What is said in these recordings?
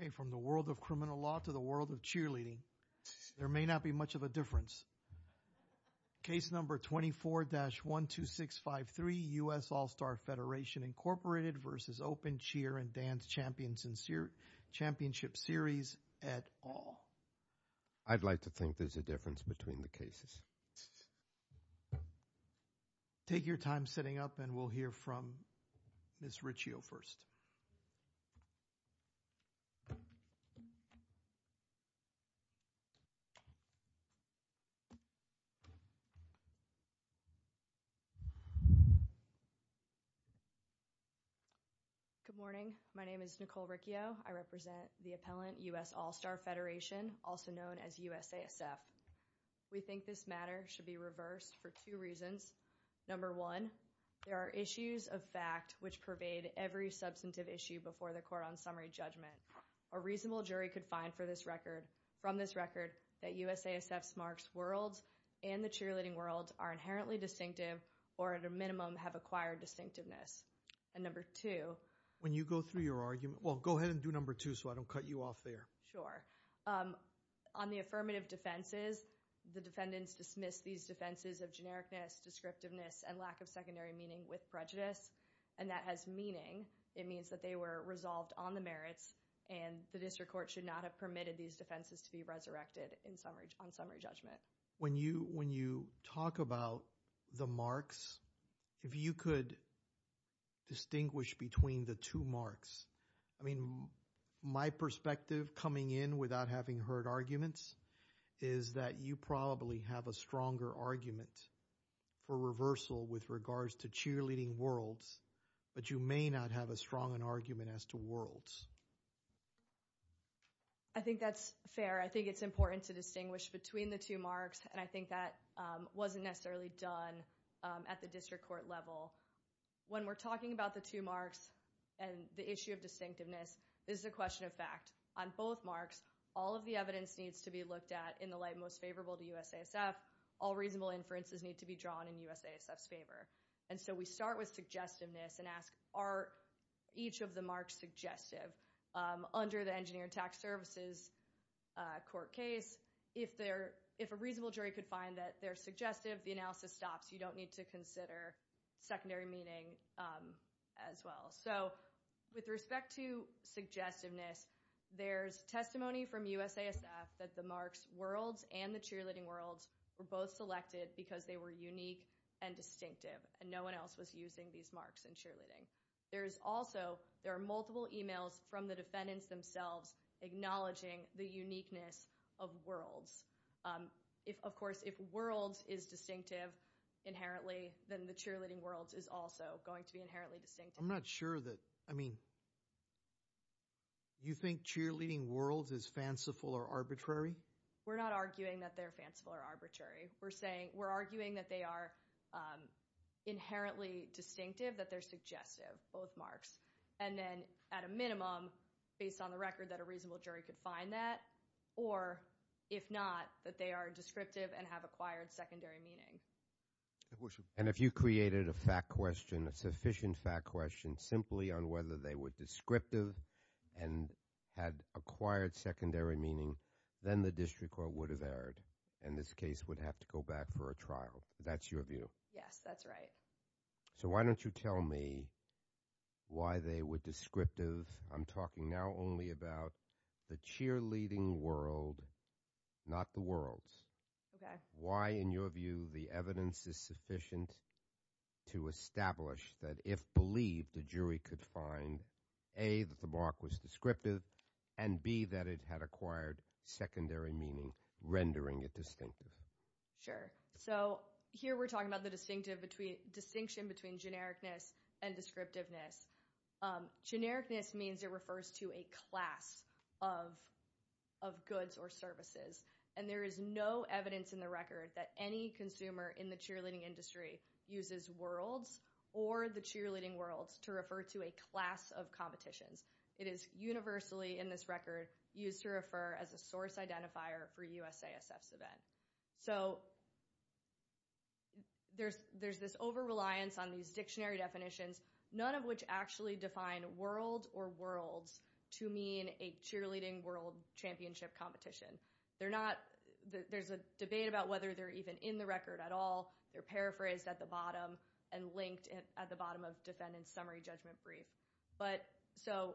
Okay, from the world of criminal law to the world of cheerleading, there may not be much of a difference. Case number 24-12653, U.S. All Star Federation, Inc. v. Open Cheer & Dance Championship Series at all. I'd like to think there's a difference between the cases. Take your time setting up and we'll hear from Ms. Riccio first. Good morning. My name is Nicole Riccio. I represent the appellant, U.S. All Star Federation, also known as USASF. We think this matter should be reversed for two reasons. Number one, there are issues of fact which pervade every substantive issue before the court on summary judgment. A reasonable jury could find from this record that USASF's marks world and the cheerleading world are inherently distinctive or at a minimum have acquired distinctiveness. And number two, on the affirmative defenses, the defendants dismiss these defenses of genericness, descriptiveness, and lack of secondary meaning with prejudice. And that has meaning. It means that they were resolved on the merits and the district court should not have permitted these defenses to be resurrected on summary judgment. When you talk about the marks, if you could distinguish between the two marks. I mean, my perspective coming in without having heard arguments is that you probably have a stronger argument for reversal with regards to cheerleading worlds, but you may not have as strong an argument as to worlds. I think that's fair. I think it's important to distinguish between the two marks, and I think that wasn't necessarily done at the district court level. When we're talking about the two marks and the issue of distinctiveness, this is a question of fact. On both marks, all of the evidence needs to be looked at in the light most favorable to USASF. All reasonable inferences need to be drawn in USASF's favor. And so we start with suggestiveness and ask, are each of the marks suggestive? Under the engineer and tax services court case, if a reasonable jury could find that they're suggestive, the analysis stops. You don't need to consider secondary meaning as well. So with respect to suggestiveness, there's testimony from USASF that the marks worlds and the cheerleading worlds were both selected because they were unique and distinctive, and no one else was using these marks in cheerleading. There is also, there are multiple emails from the defendants themselves acknowledging the uniqueness of worlds. Of course, if worlds is distinctive inherently, then the cheerleading worlds is also going to be inherently distinctive. I'm not sure that, I mean, you think cheerleading worlds is fanciful or arbitrary? We're not arguing that they're fanciful or arbitrary. We're saying, we're arguing that they are inherently distinctive, that they're suggestive, both marks. And then at a minimum, based on the record, that a reasonable jury could find that, or if not, that they are descriptive and have acquired secondary meaning. And if you created a fact question, a sufficient fact question, simply on whether they were descriptive and had acquired secondary meaning, then the district court would have erred, and this case would have to go back for a trial. That's your view? Yes, that's right. So why don't you tell me why they were descriptive? I'm talking now only about the cheerleading world, not the worlds. Why in your view the evidence is sufficient to establish that if believed, the jury could find, A, that the mark was descriptive, and B, that it had acquired secondary meaning, rendering it distinctive? Sure. So here we're talking about the distinction between genericness and descriptiveness. Genericness means it refers to a class of goods or services, and there is no evidence in the record that any consumer in the cheerleading industry uses worlds or the cheerleading worlds to refer to a class of competitions. It is universally in this record used to refer as a source identifier for USASF's event. So there's this over-reliance on these dictionary definitions, none of which actually define worlds or worlds to mean a cheerleading world championship competition. There's a debate about whether they're even in the record at all. They're paraphrased at the bottom and linked at the bottom of defendant's summary judgment brief. So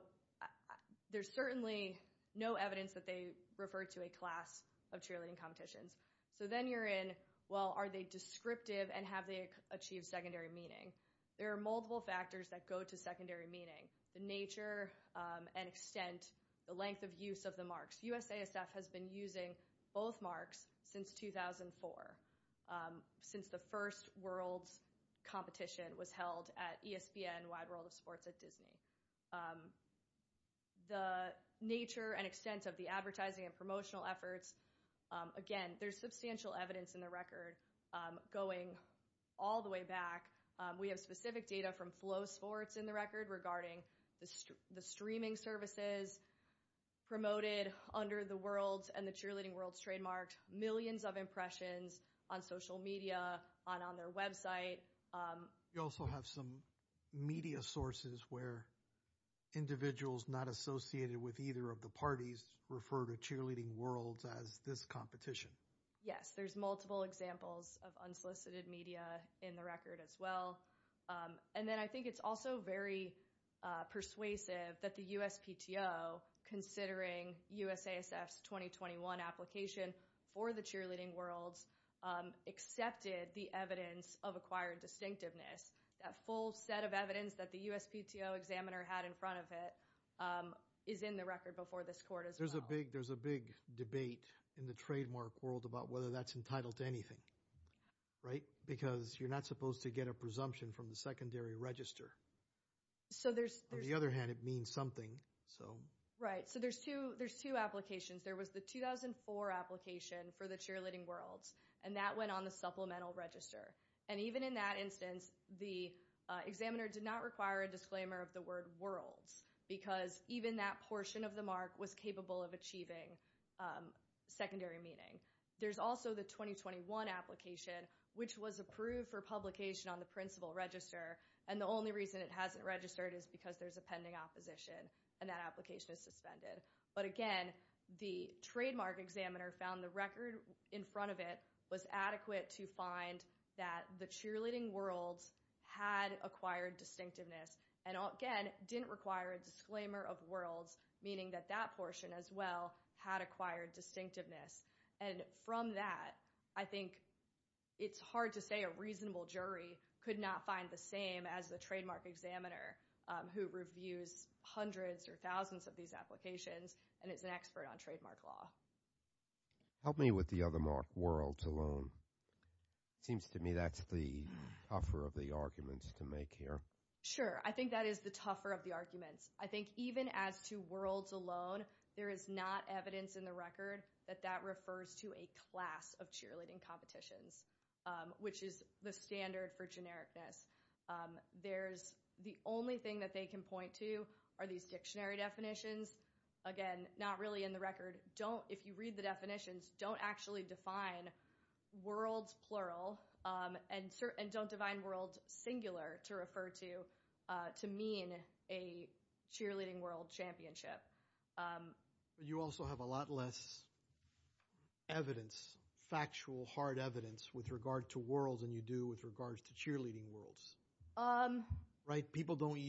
there's certainly no evidence that they refer to a class of cheerleading competitions. So then you're in, well, are they descriptive and have they achieved secondary meaning? There are multiple factors that go to secondary meaning, the nature and extent, the length of use of the marks. USASF has been using both marks since 2004, since the first worlds competition was held at ESPN, Wide World of Sports at Disney. The nature and extent of the advertising and promotional efforts, again, there's substantial evidence in the record going all the way back. We have specific data from Flow Sports in the record regarding the streaming services promoted under the worlds and the cheerleading worlds trademarked, millions of impressions on social media and on their website. You also have some media sources where individuals not associated with either of the parties refer to cheerleading worlds as this competition. Yes, there's multiple examples of unsolicited media in the record as well. And then I think it's also very persuasive that the USPTO, considering USASF's 2021 application for the cheerleading worlds, accepted the evidence of acquired distinctiveness. That full set of evidence that the USPTO examiner had in front of it is in the record before this court as well. There's a big debate in the trademark world about whether that's entitled to anything. Because you're not supposed to get a presumption from the secondary register. On the other hand, it means something. Right. So there's two applications. There was the 2004 application for the cheerleading worlds and that went on the supplemental register. And even in that instance, the examiner did not require a disclaimer of the word worlds because even that portion of the mark was capable of achieving secondary meaning. There's also the 2021 application, which was approved for publication on the principal register. And the only reason it hasn't registered is because there's a pending opposition and that application is suspended. But again, the trademark examiner found the record in front of it was adequate to find that the cheerleading worlds had acquired distinctiveness and again, didn't require a disclaimer of worlds, meaning that that portion as well had acquired distinctiveness. And from that, I think it's hard to say a reasonable jury could not find the same as the trademark examiner who reviews hundreds or thousands of these applications and is an expert on trademark law. Help me with the other mark, worlds alone. It seems to me that's the tougher of the arguments to make here. Sure. I think that is the tougher of the arguments. I think even as to worlds alone, there is not evidence in the record that that refers to a class of cheerleading competitions, which is the standard for genericness. There's the only thing that they can point to are these dictionary definitions. Again, not really in the record. Don't, if you read the definitions, don't actually define worlds plural and don't define worlds singular to refer to, to mean a cheerleading world championship. You also have a lot less evidence, factual, hard evidence with regard to worlds than you do with regards to cheerleading worlds, right? People don't,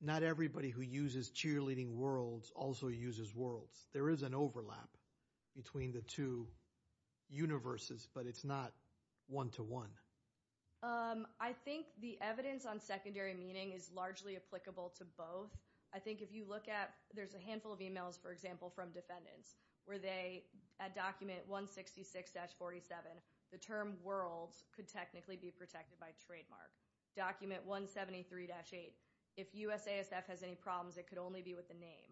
not everybody who uses cheerleading worlds also uses worlds. There is an overlap between the two universes, but it's not one to one. I think the evidence on secondary meaning is largely applicable to both. I think if you look at, there's a handful of emails, for example, from defendants where they, at document 166-47, the term worlds could technically be protected by trademark. Document 173-8, if USASF has any problems, it could only be with the name.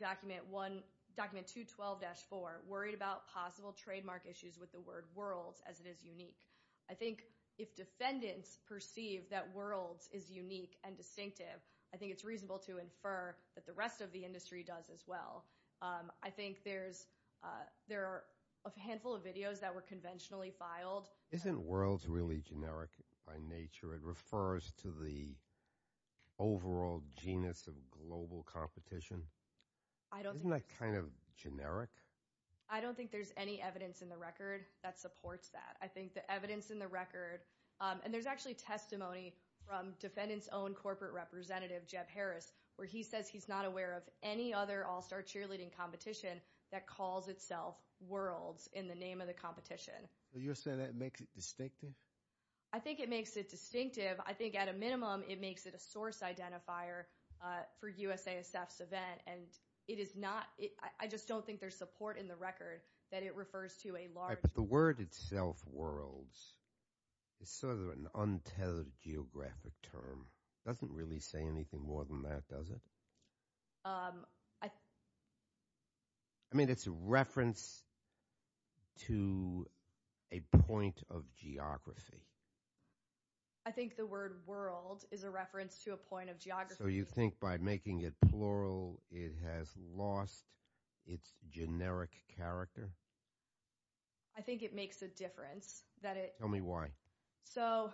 Document 212-4, worried about possible trademark issues with the word worlds as it is unique. I think if defendants perceive that worlds is unique and distinctive, I think it's reasonable to infer that the rest of the industry does as well. I think there's, there are a handful of videos that were conventionally filed. Isn't worlds really generic by nature? It refers to the overall genus of global competition. I don't think. Isn't that kind of generic? I don't think there's any evidence in the record that supports that. I think the evidence in the record, and there's actually testimony from defendants own corporate representative, Jeb Harris, where he says he's not aware of any other all-star cheerleading competition that calls itself worlds in the name of the competition. You're saying that makes it distinctive? I think it makes it distinctive. I think at a minimum, it makes it a source identifier for USASF's event, and it is not, I just don't think there's support in the record that it refers to a large. Right, but the word itself, worlds, is sort of an untethered geographic term. Doesn't really say anything more than that, does it? I mean, it's a reference to a point of geography. I think the word world is a reference to a point of geography. So you think by making it plural, it has lost its generic character? I think it makes a difference. Tell me why. So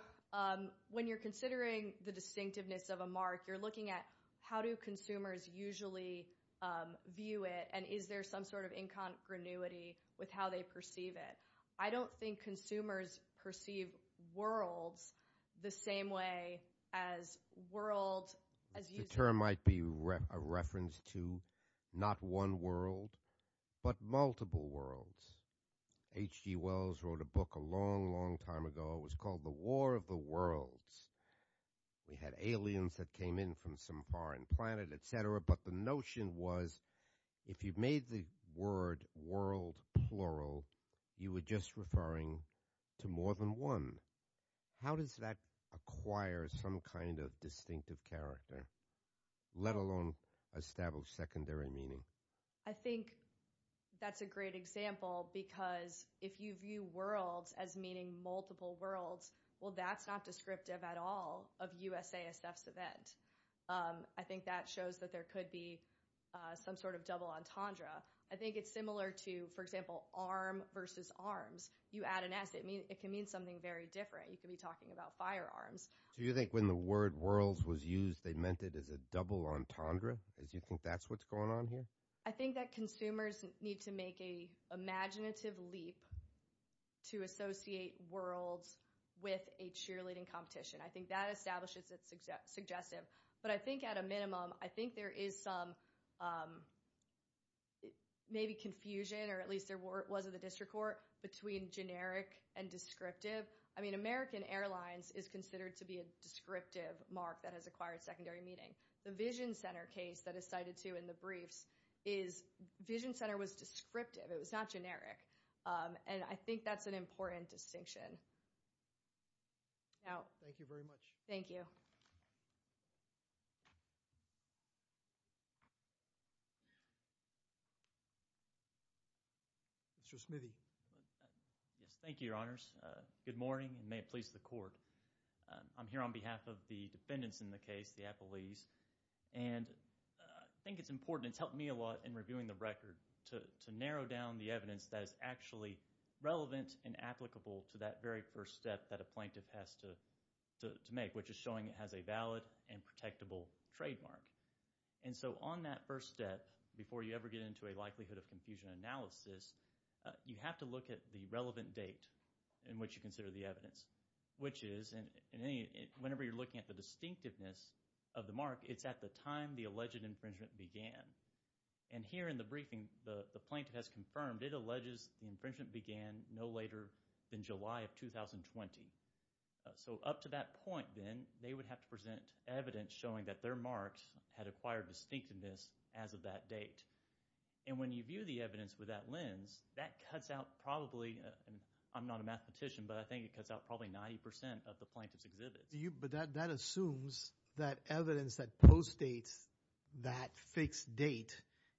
when you're considering the distinctiveness of a mark, you're looking at how do consumers usually view it, and is there some sort of incongruity with how they perceive it. I don't think consumers perceive worlds the same way as world, as you say. The term might be a reference to not one world, but multiple worlds. H.G. Wells wrote a book a long, long time ago, it was called The War of the Worlds. We had aliens that came in from some foreign planet, et cetera, but the notion was if you made the word world plural, you were just referring to more than one. How does that acquire some kind of distinctive character, let alone establish secondary meaning? I think that's a great example, because if you view worlds as meaning multiple worlds, well, that's not descriptive at all of USASF's event. I think that shows that there could be some sort of double entendre. I think it's similar to, for example, arm versus arms. You add an S, it can mean something very different. You could be talking about firearms. Do you think when the word worlds was used, they meant it as a double entendre? Do you think that's what's going on here? I think that consumers need to make a imaginative leap to associate worlds with a cheerleading competition. I think that establishes it's suggestive. But I think at a minimum, I think there is some maybe confusion, or at least there was at the district court, between generic and descriptive. I mean, American Airlines is considered to be a descriptive mark that has acquired secondary meaning. The Vision Center case that is cited, too, in the briefs is Vision Center was descriptive. It was not generic. And I think that's an important distinction. Thank you very much. Thank you. Yes, thank you, Your Honors. Good morning, and may it please the court. I'm here on behalf of the defendants in the case, the appellees. And I think it's important. It's helped me a lot in reviewing the record to narrow down the evidence that is actually relevant and applicable to that very first step that a plaintiff has to make, which is showing it has a valid and protectable trademark. And so on that first step, before you ever get into a likelihood of confusion analysis, you have to look at the relevant date in which you consider the evidence, which is, whenever you're looking at the distinctiveness of the mark, it's at the time the alleged infringement began. And here in the briefing, the plaintiff has confirmed it alleges the infringement began no later than July of 2020. So up to that point, then, they would have to present evidence showing that their marks had acquired distinctiveness as of that date. And when you view the evidence with that lens, that cuts out probably, and I'm not a mathematician, but I think it cuts out probably 90 percent of the plaintiff's exhibit. But that assumes that evidence that postdates that fixed date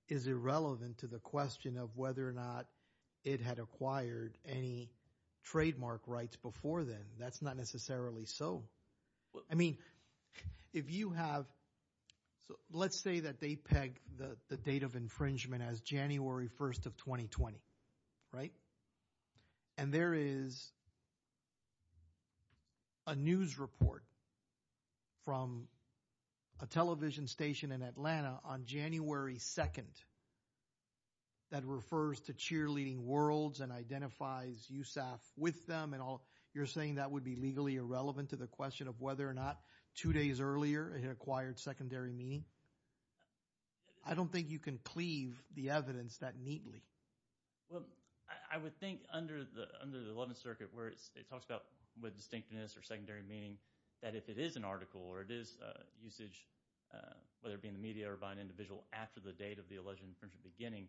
is irrelevant to the question of whether or not it had acquired any trademark rights before then. That's not necessarily so. I mean, if you have, let's say that they peg the date of infringement as January 1st of 2020, right? And there is a news report from a television station in Atlanta on January 2nd that refers to cheerleading worlds and identifies USAF with them and all. You're saying that would be legally irrelevant to the question of whether or not two days earlier it acquired secondary meaning? I don't think you can cleave the evidence that neatly. Well, I would think under the Eleventh Circuit, where it talks about with distinctiveness or secondary meaning, that if it is an article or it is usage, whether it be in the media or by an individual after the date of the alleged infringement beginning,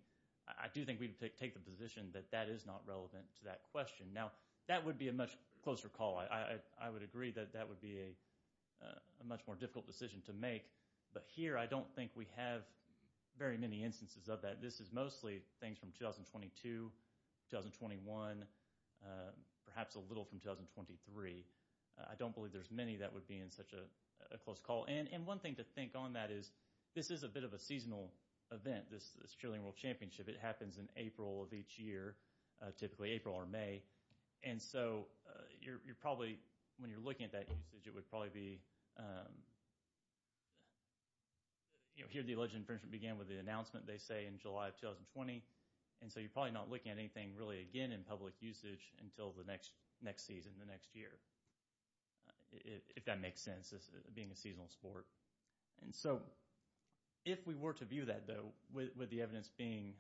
I do think we would take the position that that is not relevant to that question. Now, that would be a much closer call. I would agree that that would be a much more difficult decision to make. But here, I don't think we have very many instances of that. This is mostly things from 2022, 2021, perhaps a little from 2023. I don't believe there's many that would be in such a close call. And one thing to think on that is this is a bit of a seasonal event, this Cheerleading World Championship. It happens in April of each year, typically April or May. And so you're probably, when you're looking at that usage, it would probably be, you know, alleged infringement began with the announcement, they say, in July of 2020. And so you're probably not looking at anything really, again, in public usage until the next season, the next year, if that makes sense, being a seasonal sport. And so if we were to view that, though, with the evidence being,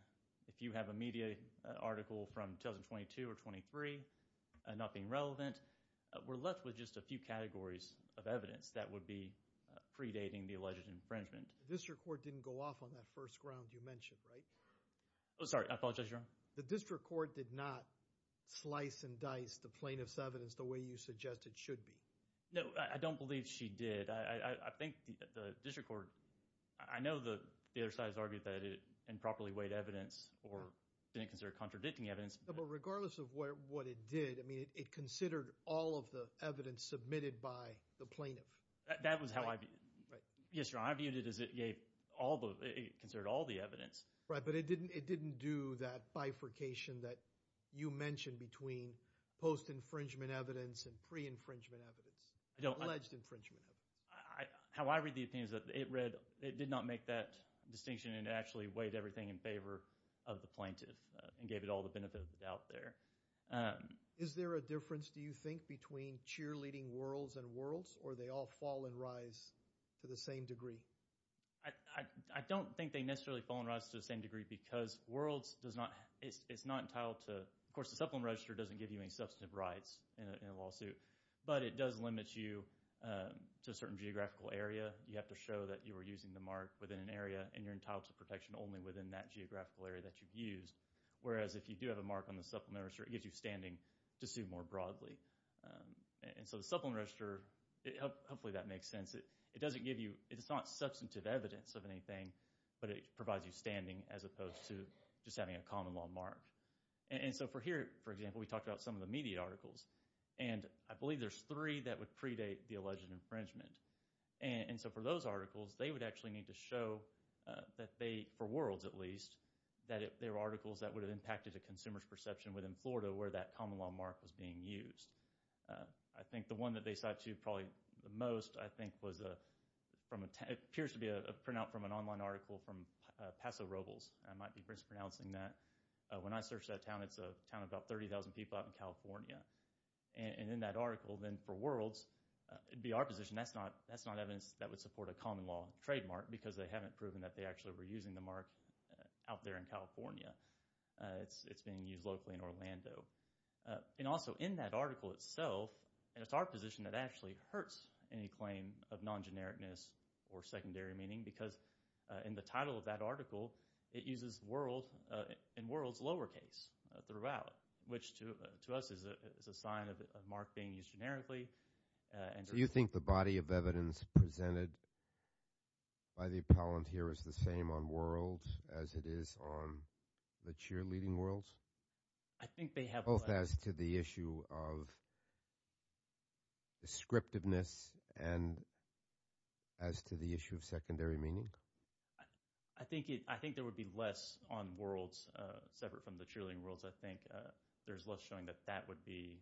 if you have a media article from 2022 or 2023, nothing relevant, we're left with just a few categories of evidence that would be predating the alleged infringement. The district court didn't go off on that first ground you mentioned, right? Oh, sorry. I apologize, Your Honor. The district court did not slice and dice the plaintiff's evidence the way you suggested should be. No, I don't believe she did. I think the district court, I know the other side has argued that it improperly weighed evidence or didn't consider contradicting evidence. But regardless of what it did, I mean, it considered all of the evidence submitted by the plaintiff. That was how I viewed it. Right. It considered all the evidence. Right. But it didn't do that bifurcation that you mentioned between post-infringement evidence and pre-infringement evidence, alleged infringement. How I read the opinion is that it did not make that distinction and actually weighed everything in favor of the plaintiff and gave it all the benefit of the doubt there. Is there a difference, do you think, between cheerleading worlds and worlds, or do they all fall and rise to the same degree? I don't think they necessarily fall and rise to the same degree because worlds, it's not entitled to, of course the Supplement Register doesn't give you any substantive rights in a lawsuit, but it does limit you to a certain geographical area. You have to show that you were using the mark within an area and you're entitled to protection only within that geographical area that you've used. Whereas if you do have a mark on the Supplement Register, it gives you standing to sue more broadly. So the Supplement Register, hopefully that makes sense. It doesn't give you, it's not substantive evidence of anything, but it provides you standing as opposed to just having a common law mark. And so for here, for example, we talked about some of the media articles, and I believe there's three that would predate the alleged infringement. And so for those articles, they would actually need to show that they, for worlds at least, that there were articles that would have impacted a consumer's perception within Florida where that common law mark was being used. I think the one that they cite to probably the most, I think, was from, it appears to be a printout from an online article from Paso Robles. I might be mispronouncing that. When I searched that town, it's a town of about 30,000 people out in California. And in that article, then for worlds, it'd be our position that's not evidence that would support a common law trademark because they haven't proven that they actually were using the mark out there in California. It's being used locally in Orlando. And also in that article itself, and it's our position that actually hurts any claim of non-genericness or secondary meaning because in the title of that article, it uses world and worlds lowercase throughout, which to us is a sign of mark being used generically. And so you think the body of evidence presented by the appellant here is the same on worlds as it is on the cheerleading worlds? I think they have- Both as to the issue of descriptiveness and as to the issue of secondary meaning? I think there would be less on worlds separate from the cheerleading worlds. I think there's less showing that that would be,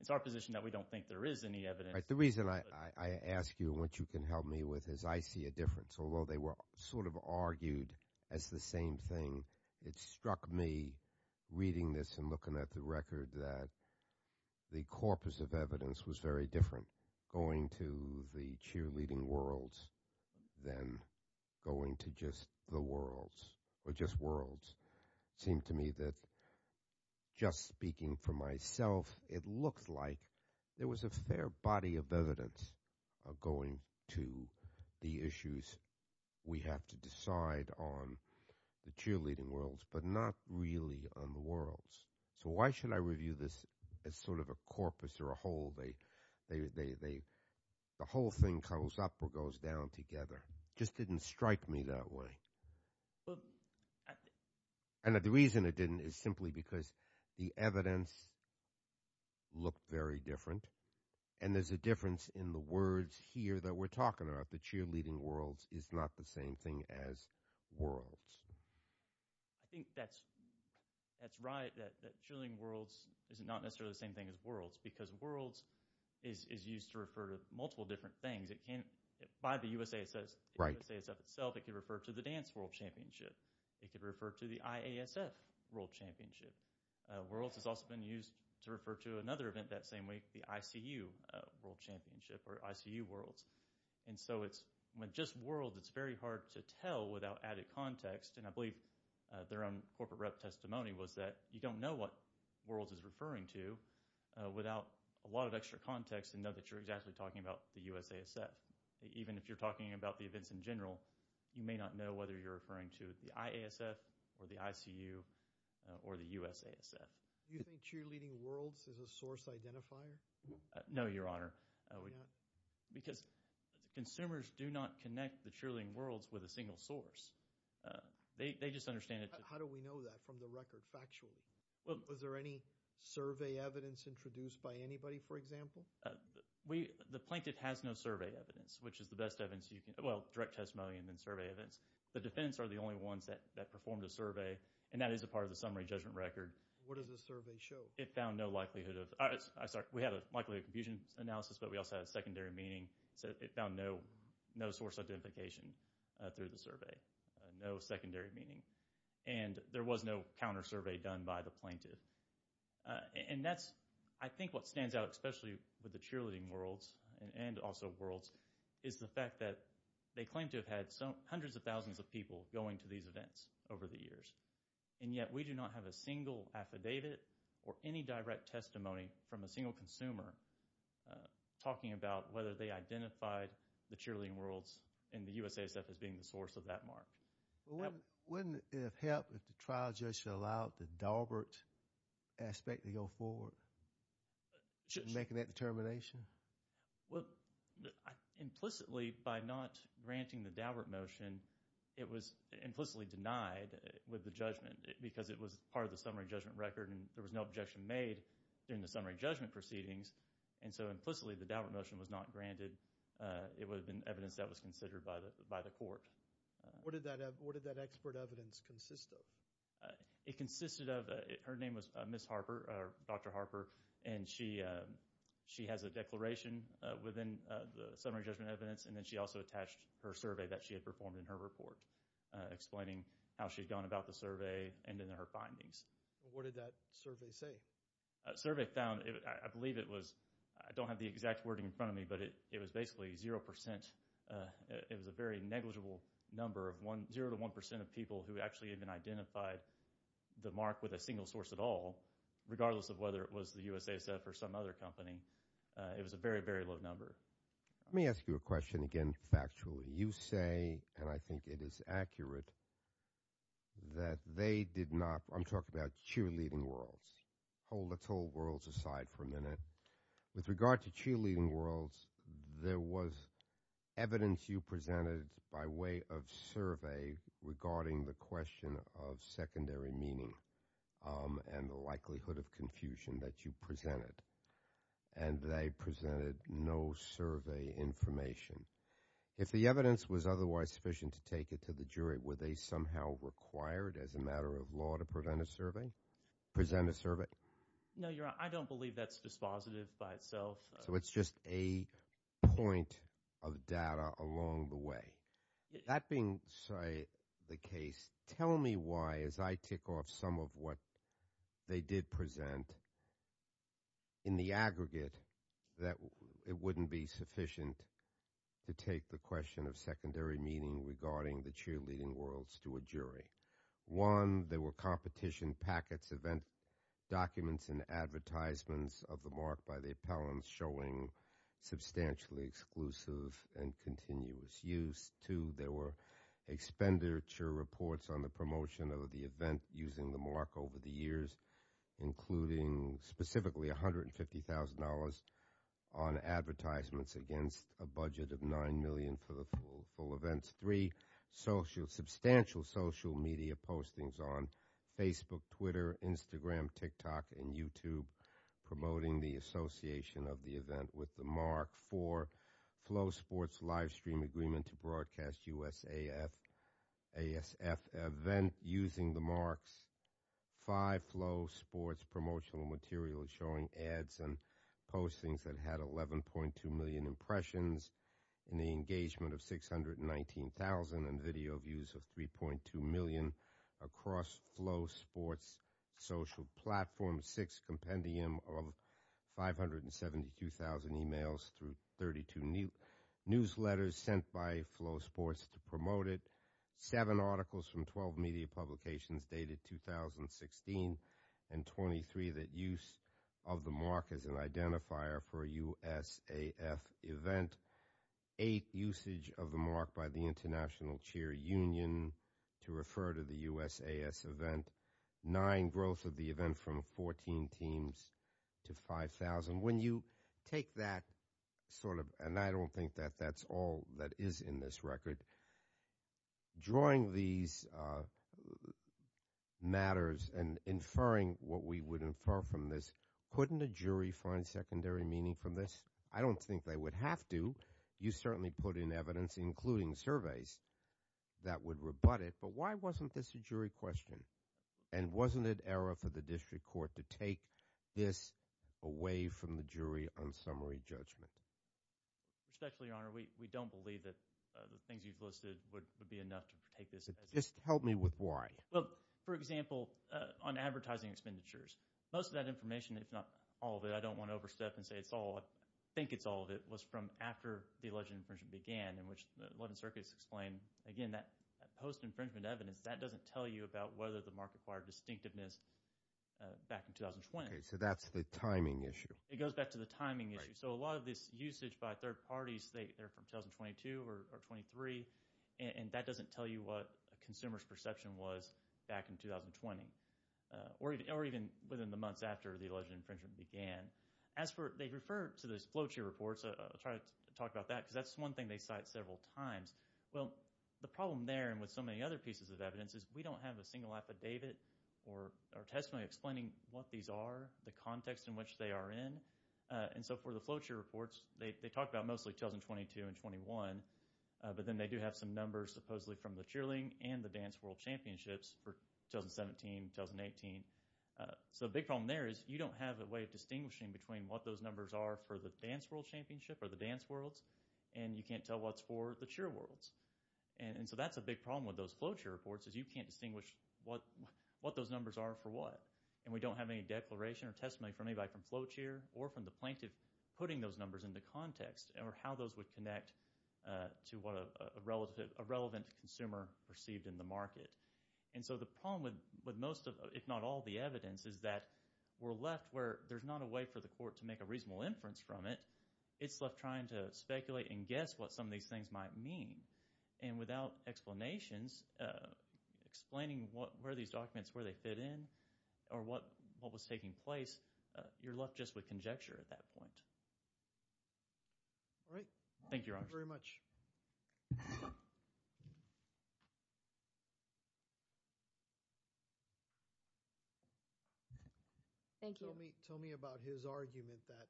it's our position that we don't think there is any evidence- The reason I ask you what you can help me with is I see a difference. Although they were sort of argued as the same thing, it struck me reading this and looking at the record that the corpus of evidence was very different going to the cheerleading worlds than going to just the worlds, or just worlds. It seemed to me that just speaking for myself, it looked like there was a fair body of evidence going to the issues we have to decide on the cheerleading worlds, but not really on the worlds. So why should I review this as sort of a corpus or a whole? The whole thing comes up or goes down together. Just didn't strike me that way. And the reason it didn't is simply because the evidence looked very different, and there's a difference in the words here that we're talking about, the cheerleading worlds is not the same thing as worlds. I think that's right, that cheerleading worlds is not necessarily the same thing as worlds, because worlds is used to refer to multiple different things. It can't, by the USASF itself, it could refer to the dance world championship. It could refer to the IASF world championship. Worlds has also been used to refer to another event that same week, the ICU world championship or ICU worlds. And so with just worlds, it's very hard to tell without added context. And I believe their own corporate rep testimony was that you don't know what worlds is referring to without a lot of extra context to know that you're exactly talking about the USASF. Even if you're talking about the events in general, you may not know whether you're referring to the IASF or the ICU or the USASF. You think cheerleading worlds is a source identifier? No, Your Honor. Because consumers do not connect the cheerleading worlds with a single source. They just understand it. How do we know that from the record, factually? Was there any survey evidence introduced by anybody, for example? The plaintiff has no survey evidence, which is the best evidence you can, well, direct testimony and then survey evidence. The defendants are the only ones that performed a survey, and that is a part of the summary judgment record. What does the survey show? It found no likelihood of, I'm sorry, we had a likelihood of confusion analysis, but we also had a secondary meaning. So it found no source identification through the survey, no secondary meaning. And there was no counter-survey done by the plaintiff. And that's, I think what stands out, especially with the cheerleading worlds and also worlds, is the fact that they claim to have had hundreds of thousands of people going to these events over the years. And yet, we do not have a single affidavit or any direct testimony from a single consumer talking about whether they identified the cheerleading worlds and the USASF as being the source of that mark. Wouldn't it have helped if the trial judge allowed the Daubert aspect to go forward in making that determination? Well, implicitly, by not granting the Daubert motion, it was implicitly denied with the judgment because it was part of the summary judgment record, and there was no objection made during the summary judgment proceedings. And so implicitly, the Daubert motion was not granted. It would have been evidence that was considered by the court. What did that expert evidence consist of? It consisted of, her name was Ms. Harper, Dr. Harper, and she has a declaration within the summary judgment evidence, and then she also attached her survey that she had performed in her report, explaining how she'd gone about the survey and then her findings. What did that survey say? Survey found, I believe it was, I don't have the exact wording in front of me, but it was basically zero percent, it was a very negligible number of zero to one percent of people who actually even identified the mark with a single source at all, regardless of whether it was the USASF or some other company. It was a very, very low number. Let me ask you a question again, factually. You say, and I think it is accurate, that they did not, I'm talking about cheerleading worlds, hold the toll worlds aside for a minute. With regard to cheerleading worlds, there was evidence you presented by way of survey regarding the question of secondary meaning and the likelihood of confusion that you presented, and they presented no survey information. If the evidence was otherwise sufficient to take it to the jury, were they somehow required as a matter of law to present a survey? No, Your Honor, I don't believe that's dispositive by itself. So it's just a point of data along the way. That being the case, tell me why, as I tick off some of what they did present, in the aggregate, that it wouldn't be sufficient to take the question of secondary meaning regarding the cheerleading worlds to a jury. One, there were competition packets of documents and advertisements of the mark by the appellants showing substantially exclusive and continuous use. Two, there were expenditure reports on the promotion of the event using the mark over the years, including specifically $150,000 on advertisements against a budget of $9 million for the full events. Three, substantial social media postings on Facebook, Twitter, Instagram, TikTok, and YouTube promoting the association of the event with the mark. Four, Flow Sports live stream agreement to broadcast USASF event using the marks. Five, Flow Sports promotional material showing ads and postings that had 11.2 million impressions and the engagement of 619,000 and video views of 3.2 million across Flow Sports social platform. Six, compendium of 572,000 emails through 32 newsletters sent by Flow Sports to promote it. Seven, articles from 12 media publications dated 2016 and 23 that use of the mark as an identifier for USASF event. Eight, usage of the mark by the International Cheer Union to refer to the USAS event. Nine, growth of the event from 14 teams to 5,000. When you take that sort of, and I don't think that that's all that is in this record, drawing these matters and inferring what we would infer from this, couldn't a jury find secondary meaning from this? I don't think they would have to. You certainly put in evidence, including surveys, that would rebut it. But why wasn't this a jury question? And wasn't it error for the district court to take this away from the jury on summary judgment? Respectfully, Your Honor, we don't believe that the things you've listed would be enough to take this. Just help me with why. Well, for example, on advertising expenditures, most of that information, if not all of it, I don't want to overstep and say it's all, I think it's all of it, was from after the alleged infringement began in which the 11 circuits explain, again, that post-infringement evidence, that doesn't tell you about whether the market acquired distinctiveness back in 2020. So that's the timing issue. It goes back to the timing issue. So a lot of this usage by third parties, they're from 2022 or 23, and that doesn't tell you what a consumer's perception was back in 2020, or even within the months after the alleged infringement began. They refer to those flowchart reports, I'll try to talk about that, because that's one thing they cite several times. Well, the problem there, and with so many other pieces of evidence, is we don't have a single affidavit or testimony explaining what these are, the context in which they are in. And so for the flowchart reports, they talk about mostly 2022 and 21, but then they do have some numbers supposedly from the cheerleading and the dance world championships for 2017, 2018. So a big problem there is you don't have a way of distinguishing between what those numbers are for the dance world championship or the dance worlds, and you can't tell what's for the cheer worlds. And so that's a big problem with those flowchart reports, is you can't distinguish what those numbers are for what. And we don't have any declaration or testimony from anybody from flowchart or from the plaintiff putting those numbers into context, or how those would connect to what a relevant consumer perceived in the market. And so the problem with most, if not all, the evidence is that we're left where there's not a way for the court to make a reasonable inference from it. It's left trying to speculate and guess what some of these things might mean. And without explanations, explaining where these documents, where they fit in, or what was taking place, you're left just with conjecture at that point. All right. Thank you, Your Honor. Thank you very much. Thank you. Tell me about his argument that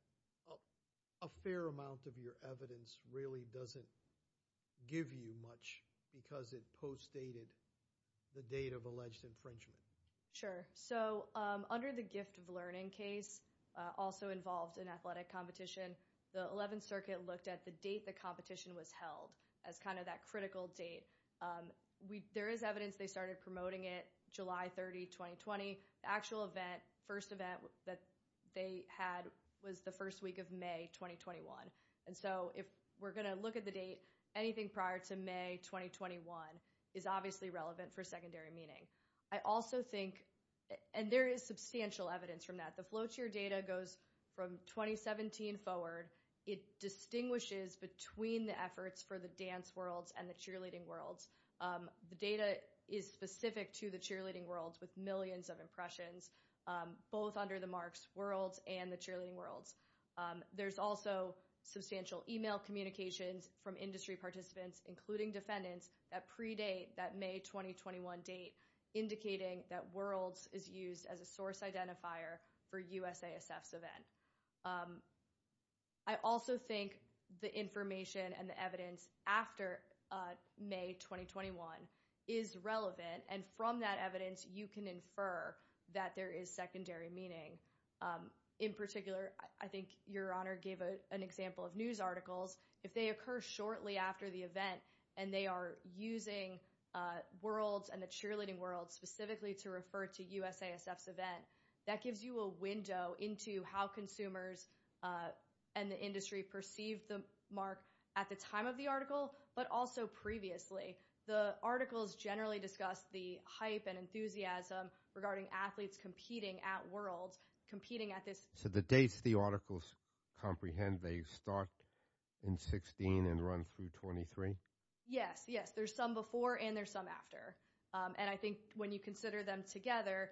a fair amount of your evidence really doesn't give you much because it postdated the date of alleged infringement. Sure. So under the Gift of Learning case, also involved in athletic competition, the 11th Circuit looked at the date the competition was held as kind of that critical date. There is evidence they started promoting it July 30, 2020. The actual event, first event that they had was the first week of May 2021. And so if we're going to look at the date, anything prior to May 2021 is obviously relevant for secondary meaning. I also think, and there is substantial evidence from that, the flowchart data goes from 2017 forward. It distinguishes between the efforts for the dance worlds and the cheerleading worlds. The data is specific to the cheerleading worlds with millions of impressions, both under the marks worlds and the cheerleading worlds. There's also substantial email communications from industry participants, including defendants, that predate that May 2021 date, indicating that worlds is used as a source identifier for USASF's event. I also think the information and the evidence after May 2021 is relevant. And from that evidence, you can infer that there is secondary meaning. In particular, I think Your Honor gave an example of news articles. If they occur shortly after the event and they are using worlds and the cheerleading worlds specifically to refer to USASF's event, that gives you a window into how consumers and the industry perceived the mark at the time of the article, but also previously. The articles generally discuss the hype and enthusiasm regarding athletes competing at worlds, competing at this. So the dates the articles comprehend, they start in 16 and run through 23? Yes, yes. There's some before and there's some after. And I think when you consider them together,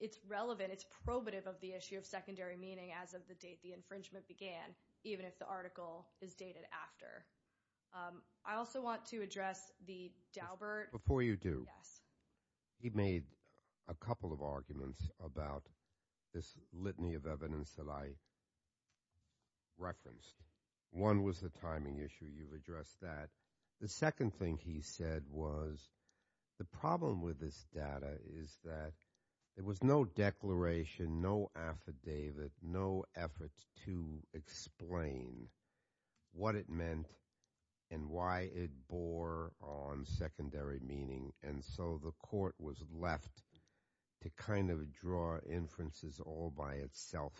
it's relevant. It's probative of the issue of secondary meaning as of the date the infringement began, even if the article is dated after. I also want to address the Daubert. Before you do, he made a couple of arguments about this litany of evidence that I referenced. One was the timing issue. You've addressed that. The second thing he said was the problem with this data is that there was no declaration, no affidavit, no effort to explain what it meant and why it bore on secondary meaning. And so the court was left to kind of draw inferences all by itself.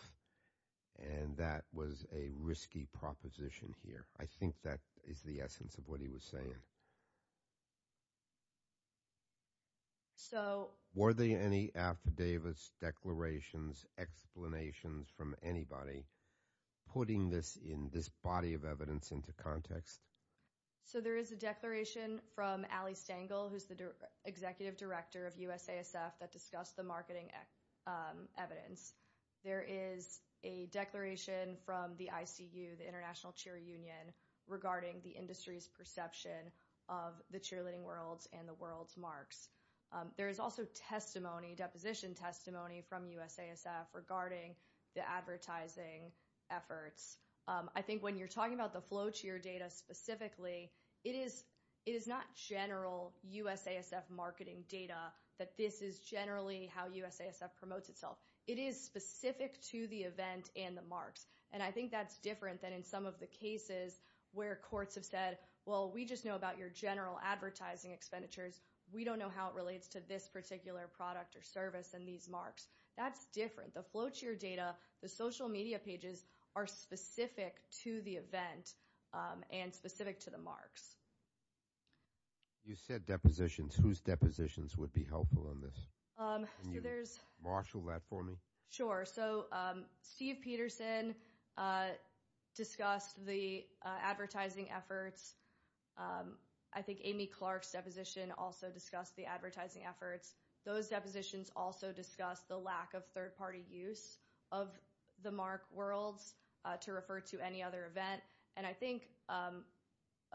And that was a risky proposition here. I think that is the essence of what he was saying. So were there any affidavits, declarations, explanations from anybody putting this in this body of evidence into context? So there is a declaration from Ali Stengel, who's the executive director of USASF, that discussed the marketing evidence. There is a declaration from the ICU, the International Cheer Union, regarding the industry's perception of the cheerleading world and the world's marks. There is also testimony, deposition testimony from USASF regarding the advertising efforts. I think when you're talking about the flow to your data specifically, it is not general USASF marketing data that this is generally how USASF promotes itself. It is specific to the event and the marks. And I think that's different than in some of the cases where courts have said, well, we just know about your general advertising expenditures. We don't know how it relates to this particular product or service and these marks. That's different. The flow to your data, the social media pages are specific to the event and specific to the marks. You said depositions. Whose depositions would be helpful on this? Can you marshal that for me? Sure. So Steve Peterson discussed the advertising efforts. I think Amy Clark's deposition also discussed the advertising efforts. Those depositions also discussed the lack of third party use of the mark worlds to refer to any other event. And I think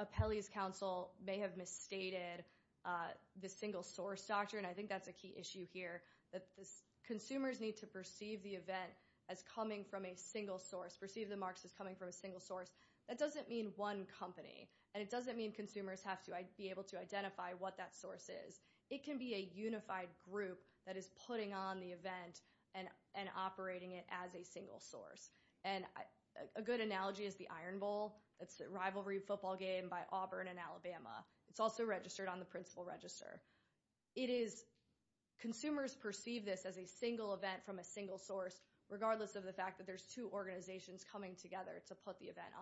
Apelli's counsel may have misstated the single source doctrine. I think that's a key issue here. Consumers need to perceive the event as coming from a single source. Perceive the marks as coming from a single source. That doesn't mean one company. And it doesn't mean consumers have to be able to identify what that source is. It can be a unified group that is putting on the event and operating it as a single source. And a good analogy is the Iron Bowl. It's a rivalry football game by Auburn and Alabama. It's also registered on the principal register. It is consumers perceive this as a single event from a single source regardless of the fact that there's two organizations coming together to put the event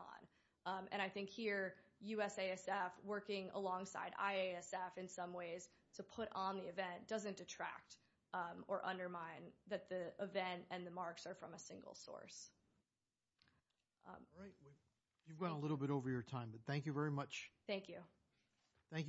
on. And I think here USASF working alongside IASF in some ways to put on the event doesn't detract or undermine that the event and the marks are from a single source. All right. You've gone a little bit over your time. But thank you very much. Thank you. Thank you both.